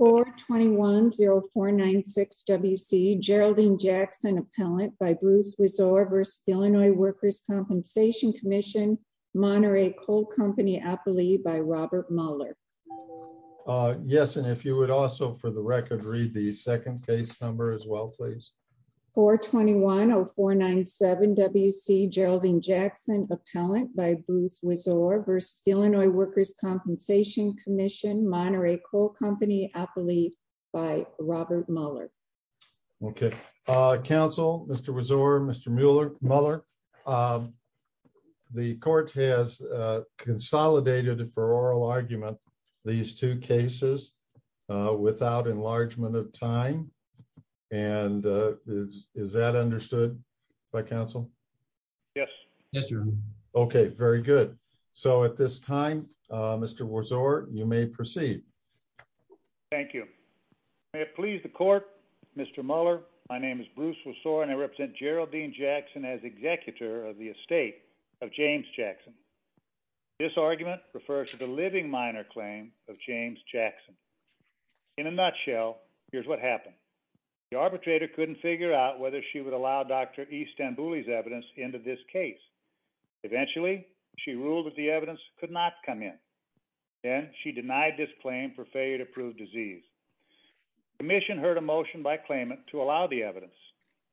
421-0496 WC Geraldine Jackson Appellant by Bruce Wiseau versus Illinois Workers' Compensation Comm'n Monterey Coal Company Appellee by Robert Muller Yes and if you would also for the record read the second case number as well please. 421-0497 WC Geraldine Jackson Appellant by Bruce Wiseau versus Illinois Workers' Compensation Comm'n Monterey Coal Company Appellee by Robert Muller Okay. Counsel, Mr. Wiseau, Mr. Muller, the court has consolidated for oral argument these two cases without enlargement of time and is that understood by counsel? Yes. Yes, sir. Okay, very good. So at this time, Mr. Wiseau, you may proceed. Thank you. May it please the court, Mr. Muller, my name is Bruce Wiseau and I represent Geraldine Jackson as executor of the estate of James Jackson. This argument refers to the living minor claim of James Jackson. In a nutshell, here's what happened. The arbitrator couldn't figure out whether she would allow Dr. E. Stambouli's evidence into this case. Eventually, she ruled that the evidence could not come in. Then she denied this claim for failure to prove disease. Commission heard a motion by claimant to allow the evidence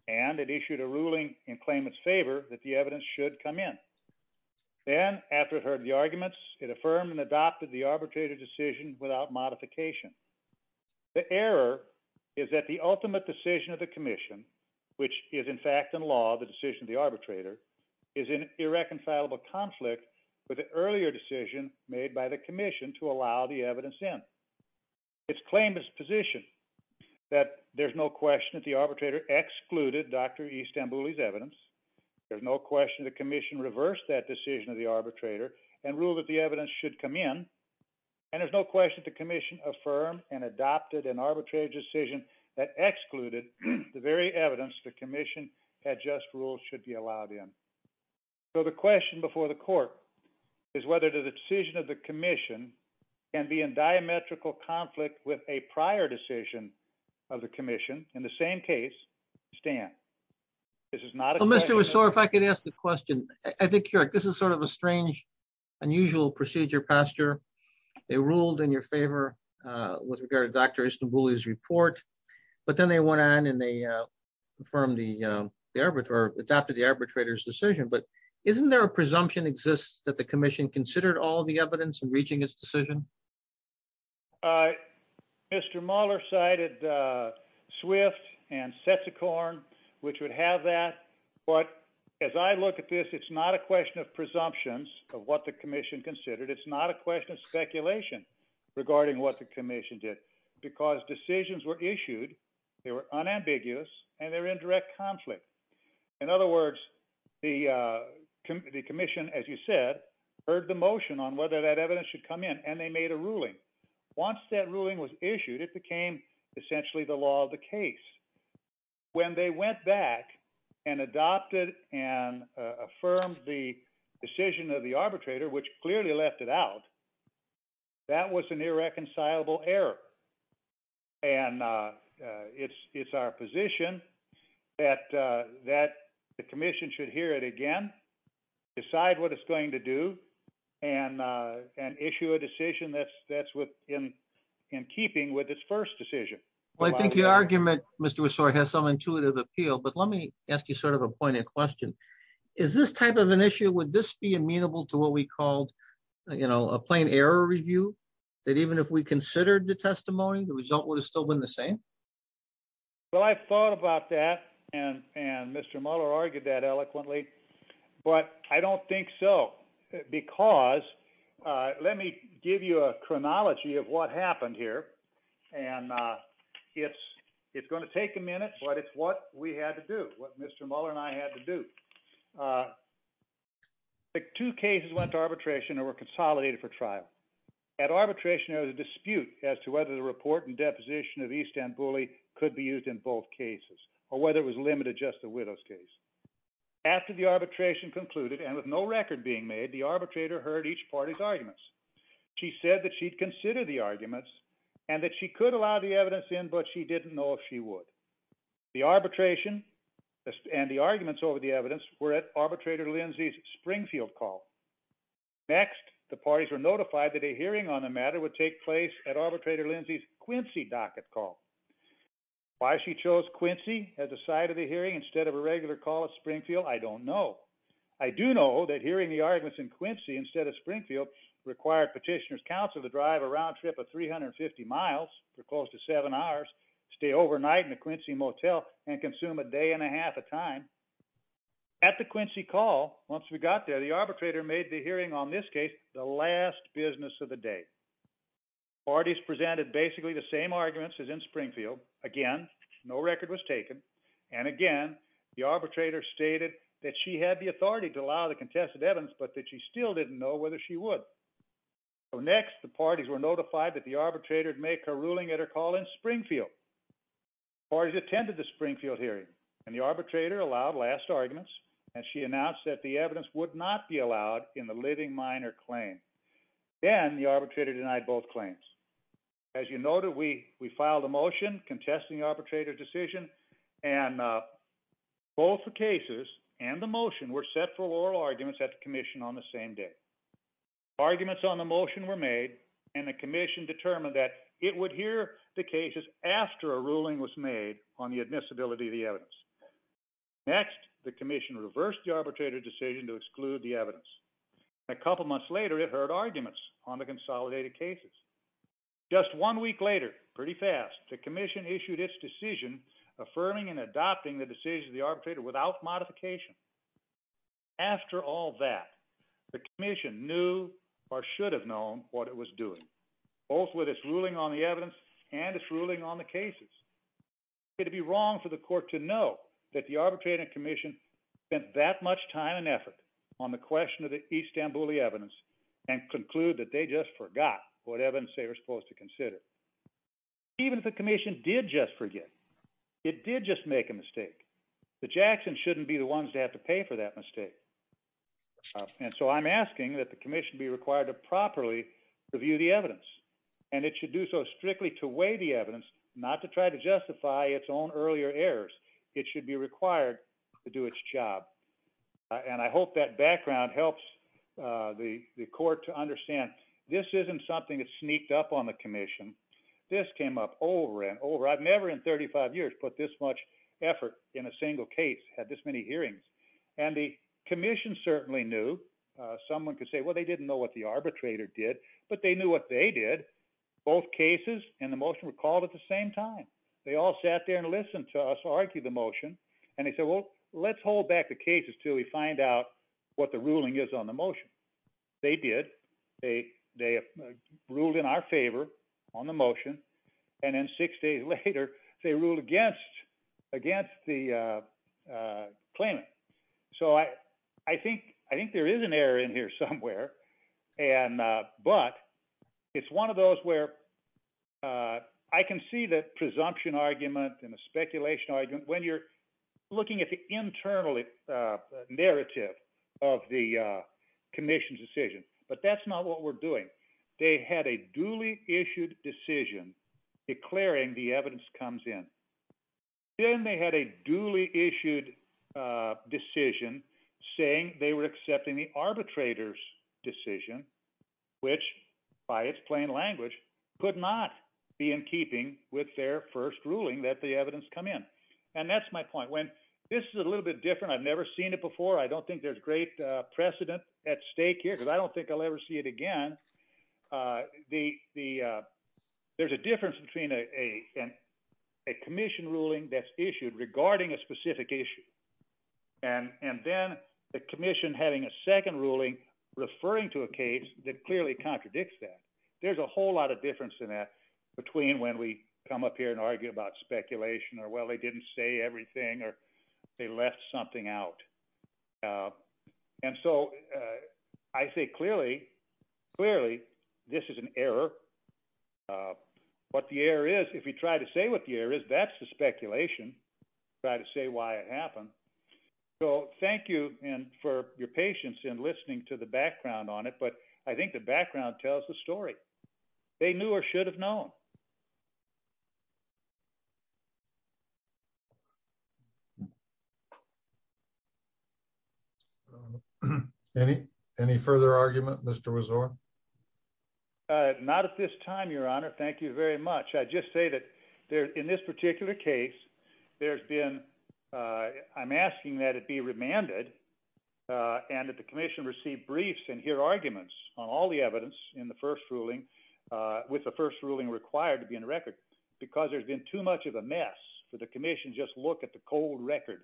and it issued a ruling in claimant's favor that the evidence should come in. Then after it heard the arguments, it affirmed and adopted the arbitrator decision without modification. The error is that the which is in fact in law, the decision of the arbitrator is an irreconcilable conflict with the earlier decision made by the commission to allow the evidence in. It's claimant's position that there's no question that the arbitrator excluded Dr. E. Stambouli's evidence. There's no question the commission reversed that decision of the arbitrator and ruled that the evidence should come in. And there's no question the commission affirmed and adopted an arbitrary decision that excluded the very evidence the commission had just ruled should be allowed in. So the question before the court is whether the decision of the commission can be in diametrical conflict with a prior decision of the commission. In the same case, Stan, this is not a question. Well, Mr. Ressort, if I could ask a question. I think this is sort of a strange, unusual procedure, Pastor. They ruled in your favor with regard to Dr. Stambouli's report, but then they went on and they affirmed the arbiter, adopted the arbitrator's decision. But isn't there a presumption exists that the commission considered all the evidence in reaching its decision? Mr. Mahler cited Swift and Setsukorn, which would have that. But as I look at this, it's not a question of presumptions of what the commission considered. It's not a question of speculation regarding what the commission did because decisions were issued. They were unambiguous and they're in direct conflict. In other words, the commission, as you said, heard the motion on whether that evidence should come in and they made a ruling. Once that ruling was issued, it became essentially the law of the case. When they went back and adopted and affirmed the decision of the arbitrator, which clearly left it out, that was an irreconcilable error. And it's our position that the commission should hear it again, decide what it's going to do and issue a decision that's in keeping with its first decision. Well, I think your argument, Mr. Messore, has some intuitive appeal. But let me ask you sort of a pointed question. Is this type of an issue? Would this be amenable to what we called, you know, a plain error review, that even if we considered the testimony, the result would have still been the same? Well, I thought about that. And Mr. Mahler argued that eloquently. But I don't think so. Because let me give you a chronology of what happened here. And it's going to take a minute, but it's what we had to do, what Mr. Mahler and I had to do. The two cases went to arbitration or were consolidated for trial. At arbitration, there was a dispute as to whether the report and deposition of East End Bully could be used in both cases or whether it was limited to just the widow's case. After the arbitration concluded and with no record being made, the arbitrator heard each party's arguments. She said that she'd consider the arguments and that she could allow the evidence in, but she didn't know if she would. The arbitration and the arguments over the evidence were at Arbitrator Lindsay's Springfield call. Next, the parties were notified that a hearing on the matter would take place at at the side of the hearing instead of a regular call at Springfield. I don't know. I do know that hearing the arguments in Quincy instead of Springfield required petitioner's counsel to drive a round trip of 350 miles for close to seven hours, stay overnight in the Quincy Motel, and consume a day and a half of time. At the Quincy call, once we got there, the arbitrator made the hearing on this case the last business of the day. Parties presented basically the same arguments as in Springfield. Again, no record was taken. And again, the arbitrator stated that she had the authority to allow the contested evidence, but that she still didn't know whether she would. Next, the parties were notified that the arbitrator would make a ruling at her call in Springfield. Parties attended the Springfield hearing, and the arbitrator allowed last arguments, and she announced that the evidence would not be allowed in the living minor claim. Then the arbitrator denied both claims. As you noted, we filed a motion contesting the arbitrator's decision, and both the cases and the motion were set for oral arguments at the commission on the same day. Arguments on the motion were made, and the commission determined that it would hear the cases after a ruling was made on the admissibility of the evidence. Next, the commission reversed the arbitrator's decision to exclude the evidence. A couple months later, it heard arguments on the consolidated cases. Just one week later, pretty fast, the commission issued its decision affirming and adopting the decision of the arbitrator without modification. After all that, the commission knew or should have known what it was doing, both with its ruling on the evidence and its ruling on the cases. It would be wrong for the court to know that the arbitrator spent that much time and effort on the question of the Istanbuli evidence and conclude that they just forgot what evidence they were supposed to consider. Even if the commission did just forget, it did just make a mistake. The Jacksons shouldn't be the ones to have to pay for that mistake, and so I'm asking that the commission be required to properly review the evidence, and it should do so strictly to weigh the evidence, not to try to justify its own earlier errors. It should be required to do its job, and I hope that background helps the court to understand this isn't something that sneaked up on the commission. This came up over and over. I've never in 35 years put this much effort in a single case, had this many hearings, and the commission certainly knew. Someone could say, well, they didn't know what the arbitrator did, but they knew what they did. Both cases and the motion were called at the same time. They all sat there and listened to us argue the motion, and they said, well, let's hold back the cases until we find out what the ruling is on the motion. They did. They ruled in our favor on the motion, and then six days later, they ruled against the claimant. So I think there is an error in here somewhere, but it's one of those where I can see the presumption argument and the speculation argument when you're looking at the internal narrative of the commission's decision, but that's not what we're doing. They had a duly issued decision declaring the evidence comes in. Then they had a duly issued decision saying they were accepting the arbitrator's decision, which by its plain language could not be in keeping with their first ruling that the evidence come in, and that's my point. When this is a little bit different, I've never seen it before. I don't think there's great precedent at stake here, because I don't think I'll ever see it again. There's a difference between a commission ruling that's issued regarding a specific issue and then the commission having a second ruling referring to a case that clearly contradicts that. There's a whole lot of difference in that between when we come up here and argue about speculation or, well, they didn't say everything or they left something out. And so I say clearly, clearly, this is an error. What the error is, if you try to say what the error is, that's the speculation. Try to say why it happened. So thank you for your patience in listening to the background on it, but I think the background tells the story. They knew or should have known. Any further argument, Mr. Rezor? Not at this time, Your Honor. Thank you very much. I'd just say that in this particular case, there's been, I'm asking that it be remanded and that the commission receive briefs and hear arguments on all the evidence in the first ruling, with the first ruling required to be in record, because there's been too much of a mess for the commission to just look at the cold record.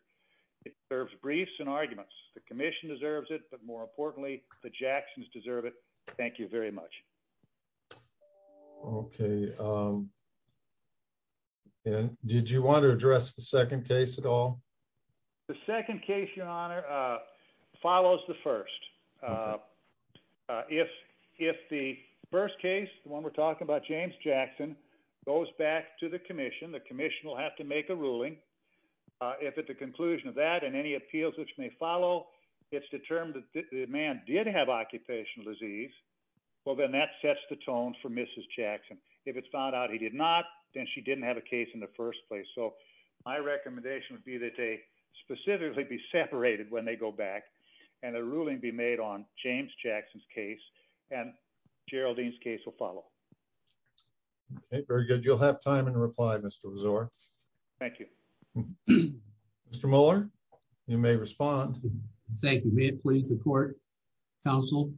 It deserves briefs and arguments. The commission deserves it, but more importantly, the Jacksons deserve it. Thank you very much. Okay. Did you want to address the second case at all? The second case, Your Honor, follows the first. If the first case, the one we're talking about, James Jackson, goes back to the commission, the commission will have to make a ruling. If at the conclusion of that and any appeals which may follow, it's determined that the man did have occupational disease, well, then that sets the tone for Mrs. Jackson. If it's found out he did not, then she didn't have a case in the first place. So my recommendation would be that they specifically be separated when they go back and a ruling be made on James Jackson's case and Geraldine's case will follow. Very good. You'll have time to reply, Mr. Azor. Thank you. Mr. Muller, you may respond. Thank you. May it please the court, counsel.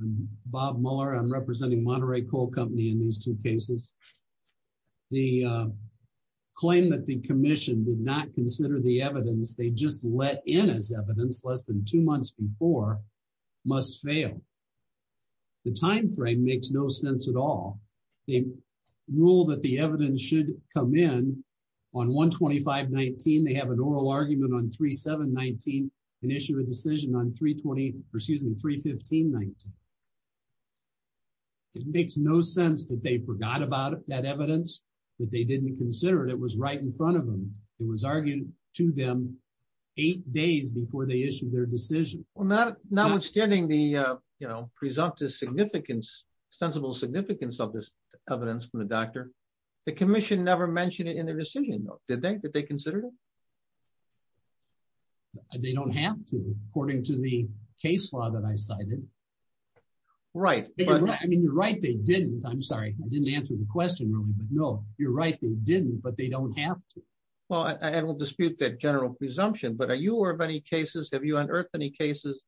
I'm Bob Muller. I'm representing Monterey Coal Company in these two cases. The claim that the commission did not consider the evidence they just let in as evidence less than two months before must fail. The timeframe makes no sense at all. They rule that the evidence should come in on 1-25-19. They have an oral argument on 3-7-19 and issue a decision on 3-15-19. It makes no sense that they forgot about that evidence, that they didn't consider it. It was right in front of them. It was argued to them eight days before they issued their decision. Well, notwithstanding the presumptive significance, sensible significance of this doctrine, the commission never mentioned it in their decision. Did they? Did they consider it? They don't have to, according to the case law that I cited. Right. I mean, you're right. They didn't. I'm sorry. I didn't answer the question really. But no, you're right. They didn't, but they don't have to. Well, I don't dispute that general presumption, but are you aware of any cases? Have you unearthed any cases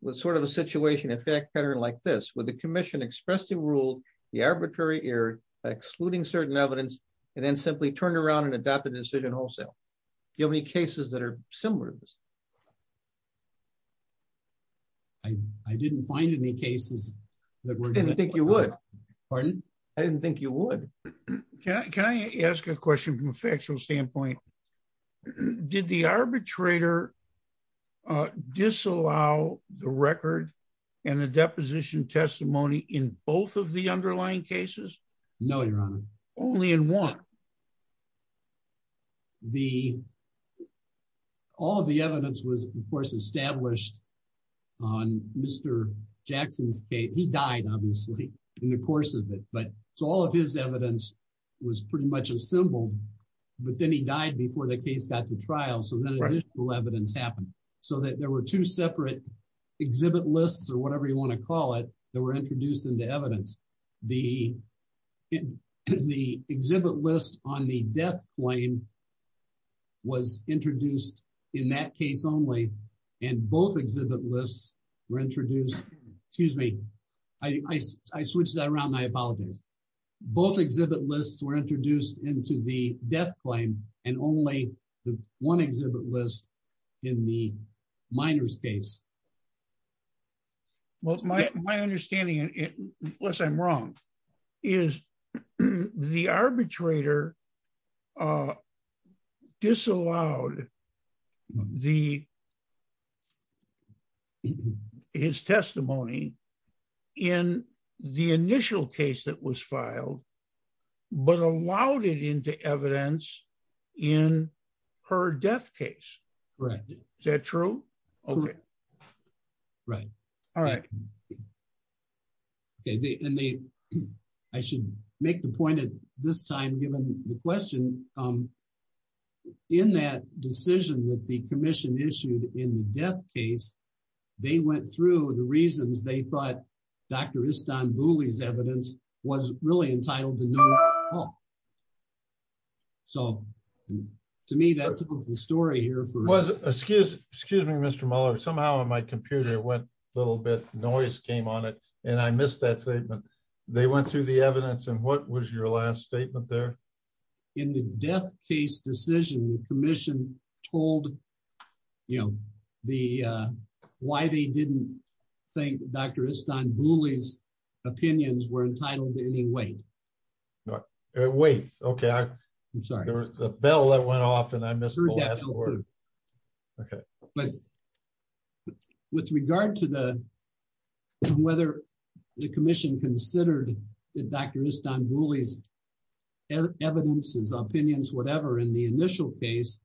with sort of a situation like this, where the commission expressly ruled the arbitrary error, excluding certain evidence, and then simply turned around and adopted the decision wholesale? Do you have any cases that are similar to this? I didn't find any cases that were- I didn't think you would. Pardon? I didn't think you would. Can I ask a question from a factual standpoint? Did the arbitrator disallow the record and the deposition testimony in both of the underlying cases? No, your honor. Only in one? The- all of the evidence was, of course, established on Mr. Jackson's case. He died, obviously, in the course of it, but all of his evidence was pretty much assembled, but then he died before the case got to trial, so then additional evidence happened, so that there were two separate exhibit lists, or whatever you want to call it, that were introduced into evidence. The exhibit list on the death claim was introduced in that case only, and both exhibit lists were introduced- excuse me, I switched that around, and I apologize. Both exhibit lists were introduced into the death claim, and only the one exhibit list in the minor's case. Well, my understanding, unless I'm wrong, is the arbitrator disallowed the- in the initial case that was filed, but allowed it into evidence in her death case. Correct. Is that true? Correct. Right. All right. Okay, and they- I should make the point at this time, given the question, in that decision that the commission issued in the death case, they went through the reasons they thought Dr. Istanbuli's evidence was really entitled to no- So, to me, that tells the story here for- Was- excuse me, Mr. Mueller, somehow on my computer, it went a little bit, noise came on it, and I missed that statement. They went through the evidence, and what was your last statement there? In the death case decision, the commission told, you know, the- why they didn't think Dr. Istanbuli's opinions were entitled to any weight. Weight. Okay, I- I'm sorry. There was a bell that went off, and I missed the last word. Okay. With regard to the- whether the commission considered that Dr. Istanbuli's evidence, his opinions, whatever, in the initial case,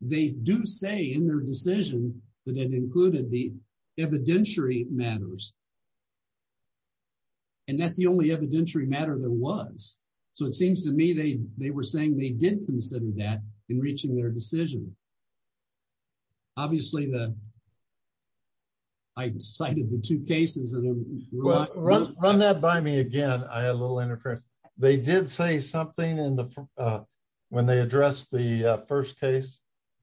they do say in their decision that it included the evidentiary matters, and that's the only evidentiary matter there was. So, it seems to me they were saying they did consider that in reaching their decision. Obviously, the- I cited the two cases, and- Run that by me again. I had a little interference. They did say something in the- when they addressed the first case?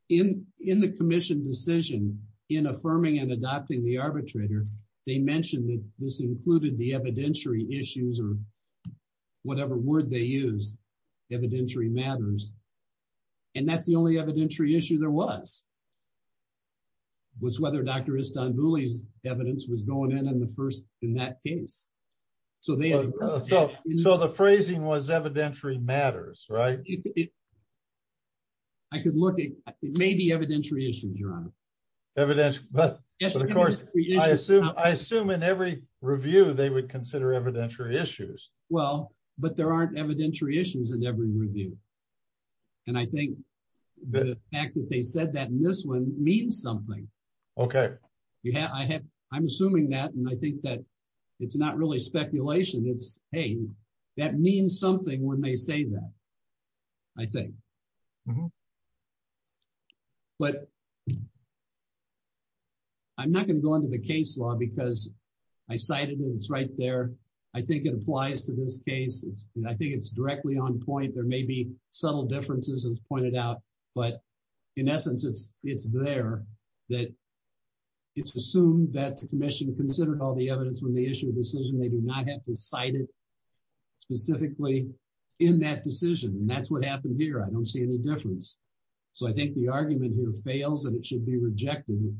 In the commission decision, in affirming and adopting the arbitrator, they mentioned that this included the evidentiary issues, or whatever word they use, evidentiary matters, and that's the only evidentiary issue there was, was whether Dr. Istanbuli's evidence was going in in the first- in that case. So, they- So, the phrasing was evidentiary matters, right? I could look at- it may be evidentiary issues, Your Honor. Evidentiary- but- Yes, evidentiary issues. I assume in every review, they would consider evidentiary issues. Well, but there aren't evidentiary issues in every review, and I think the fact that they said that in this one means something. Okay. I'm assuming that, and I think that it's not really speculation. It's, hey, that means something when they say that, I think. But I'm not going to go into the case law, because I cited it. It's right there. I think it applies to this case, and I think it's directly on point. There may be subtle differences, as pointed out, but in essence, it's there that it's assumed that the Commission considered all the evidence when they issued a decision. They do not have to cite it specifically in that decision, and that's what happened here. I don't see any difference. So, I think the argument here fails, and it should be rejected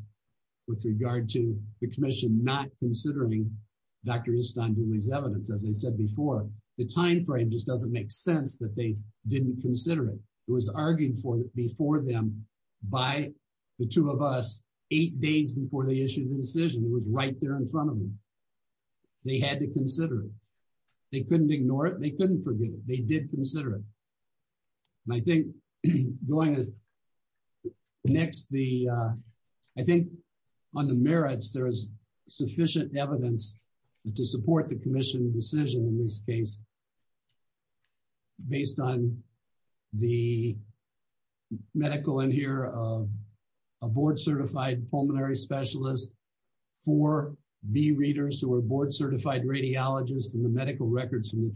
with regard to the Commission not considering Dr. Istanbul's evidence, as I said before. The time frame just doesn't make sense that they didn't consider it. It was argued for before them by the two of us eight days before they issued the decision. It was right there in front of them. They had to consider it. They couldn't ignore it. They couldn't forget it. They did consider it, and I think going next, I think on the merits, there is sufficient evidence to support the Commission decision in this case based on the medical in here of a board-certified pulmonary specialist, four B readers who are board-certified radiologists, and the medical records from the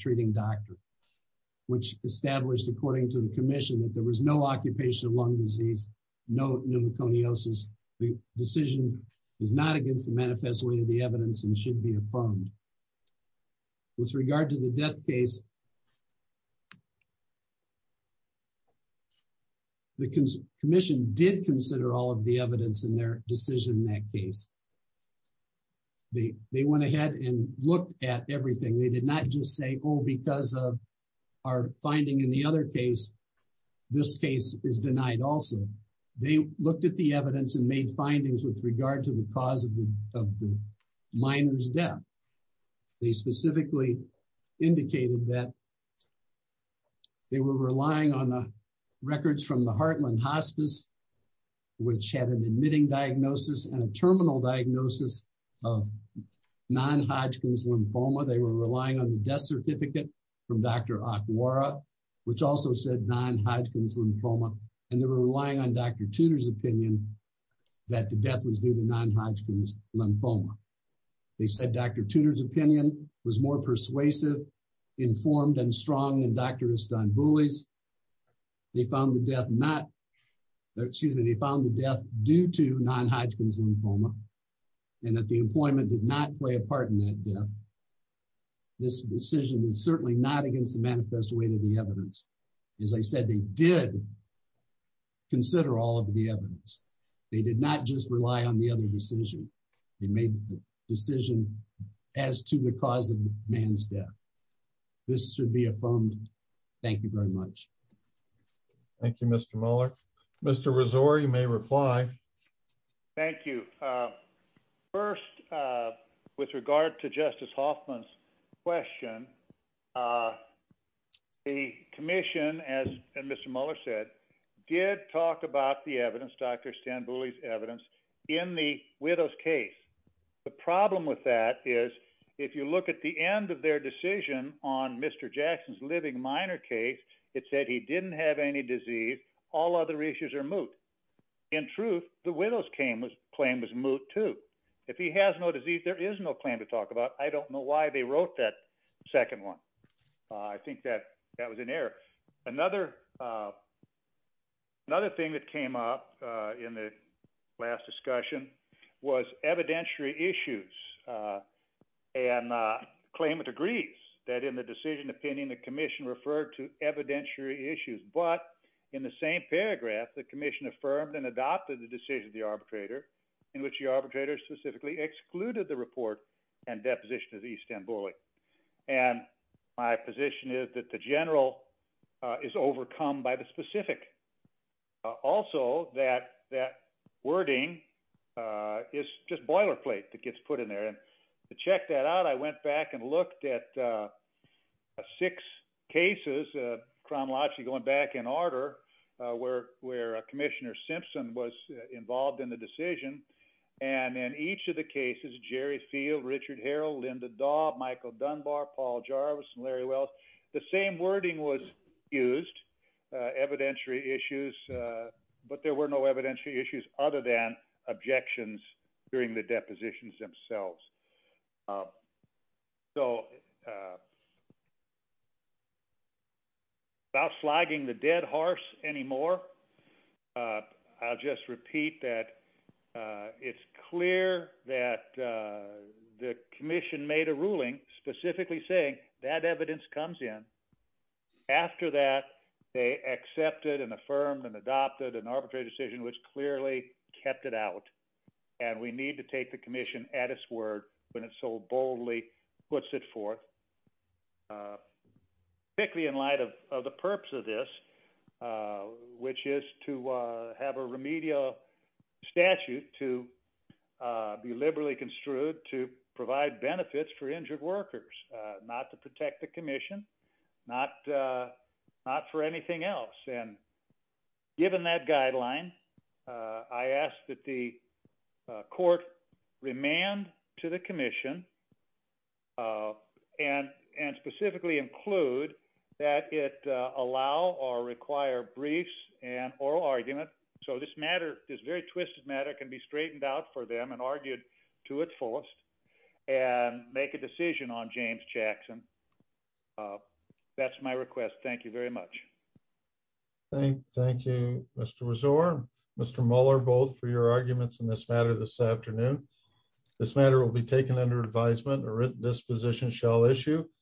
Commission that there was no occupation of lung disease, no pneumoconiosis. The decision is not against the manifest way of the evidence and should be affirmed. With regard to the death case, the Commission did consider all of the evidence in their decision in that case. They went ahead and looked at everything. They did not just say, oh, because of our finding in the other case, this case is denied also. They looked at the evidence and made findings with regard to the cause of the minor's death. They specifically indicated that they were relying on the records from the Heartland Hospice, which had an admitting diagnosis and a terminal diagnosis of non-Hodgkin's lymphoma. They were relying on the death certificate from Dr. Akwara, which also said non-Hodgkin's lymphoma, and they were relying on Dr. Tudor's opinion that the death was due to non-Hodgkin's lymphoma. They said Dr. Tudor's opinion was more persuasive, informed, and strong than Dr. Istanbuli's. They found the death due to non-Hodgkin's lymphoma and that the employment did not play a part in that death. This decision is certainly not against the manifest weight of the evidence. As I said, they did consider all of the evidence. They did not just rely on the other decision. They made the decision as to the cause of the man's death. This should be affirmed. Thank you very much. Thank you, Mr. Mueller. Mr. Rezor, you may reply. Thank you. First, with regard to Justice Hoffman's question, the commission, as Mr. Mueller said, did talk about the evidence, Dr. Istanbuli's evidence, in the widow's case. The problem with that is if you look at the end of their decision on Mr. Jackson's living minor case, it said he didn't have any disease. All other issues are moot. In truth, the widow's claim was moot, too. If he has no disease, there is no claim to talk about. I don't know why they wrote that second one. I think that was an error. Another thing that came up in the last discussion was evidentiary issues. And the claimant agrees that in the decision opinion, the commission referred to evidentiary issues. But in the same and adopted the decision of the arbitrator, in which the arbitrator specifically excluded the report and deposition of Istanbuli. And my position is that the general is overcome by the specific. Also, that wording is just boilerplate that gets put in there. And to check that out, I went back and looked at six cases, chronologically going back in order, where Commissioner Simpson was involved in the decision. And in each of the cases, Jerry Field, Richard Harrell, Linda Daub, Michael Dunbar, Paul Jarvis, and Larry Wells, the same wording was used, evidentiary issues. But there were no evidentiary issues other than objections during the depositions themselves. So without flagging the dead horse anymore, I'll just repeat that it's clear that the commission made a ruling specifically saying that evidence comes in. After that, they accepted and affirmed and adopted an arbitrary decision, which clearly kept it out. And we need to take the commission at its word when it so boldly puts it forth, particularly in light of the purpose of this, which is to have a remedial statute to be liberally construed to provide benefits for injured workers, not to protect the commission, not for anything else. And given that guideline, I ask that the court remand to the commission and specifically include that it allow or require briefs and oral argument. So this matter, this very twisted matter can be straightened out for them and argued to its fullest and make a decision on James Jackson. That's my request. Thank you very much. Thank you, Mr. Resort, Mr. Muller, both for your arguments in this matter this afternoon. This matter will be taken under advisement or written disposition shall issue.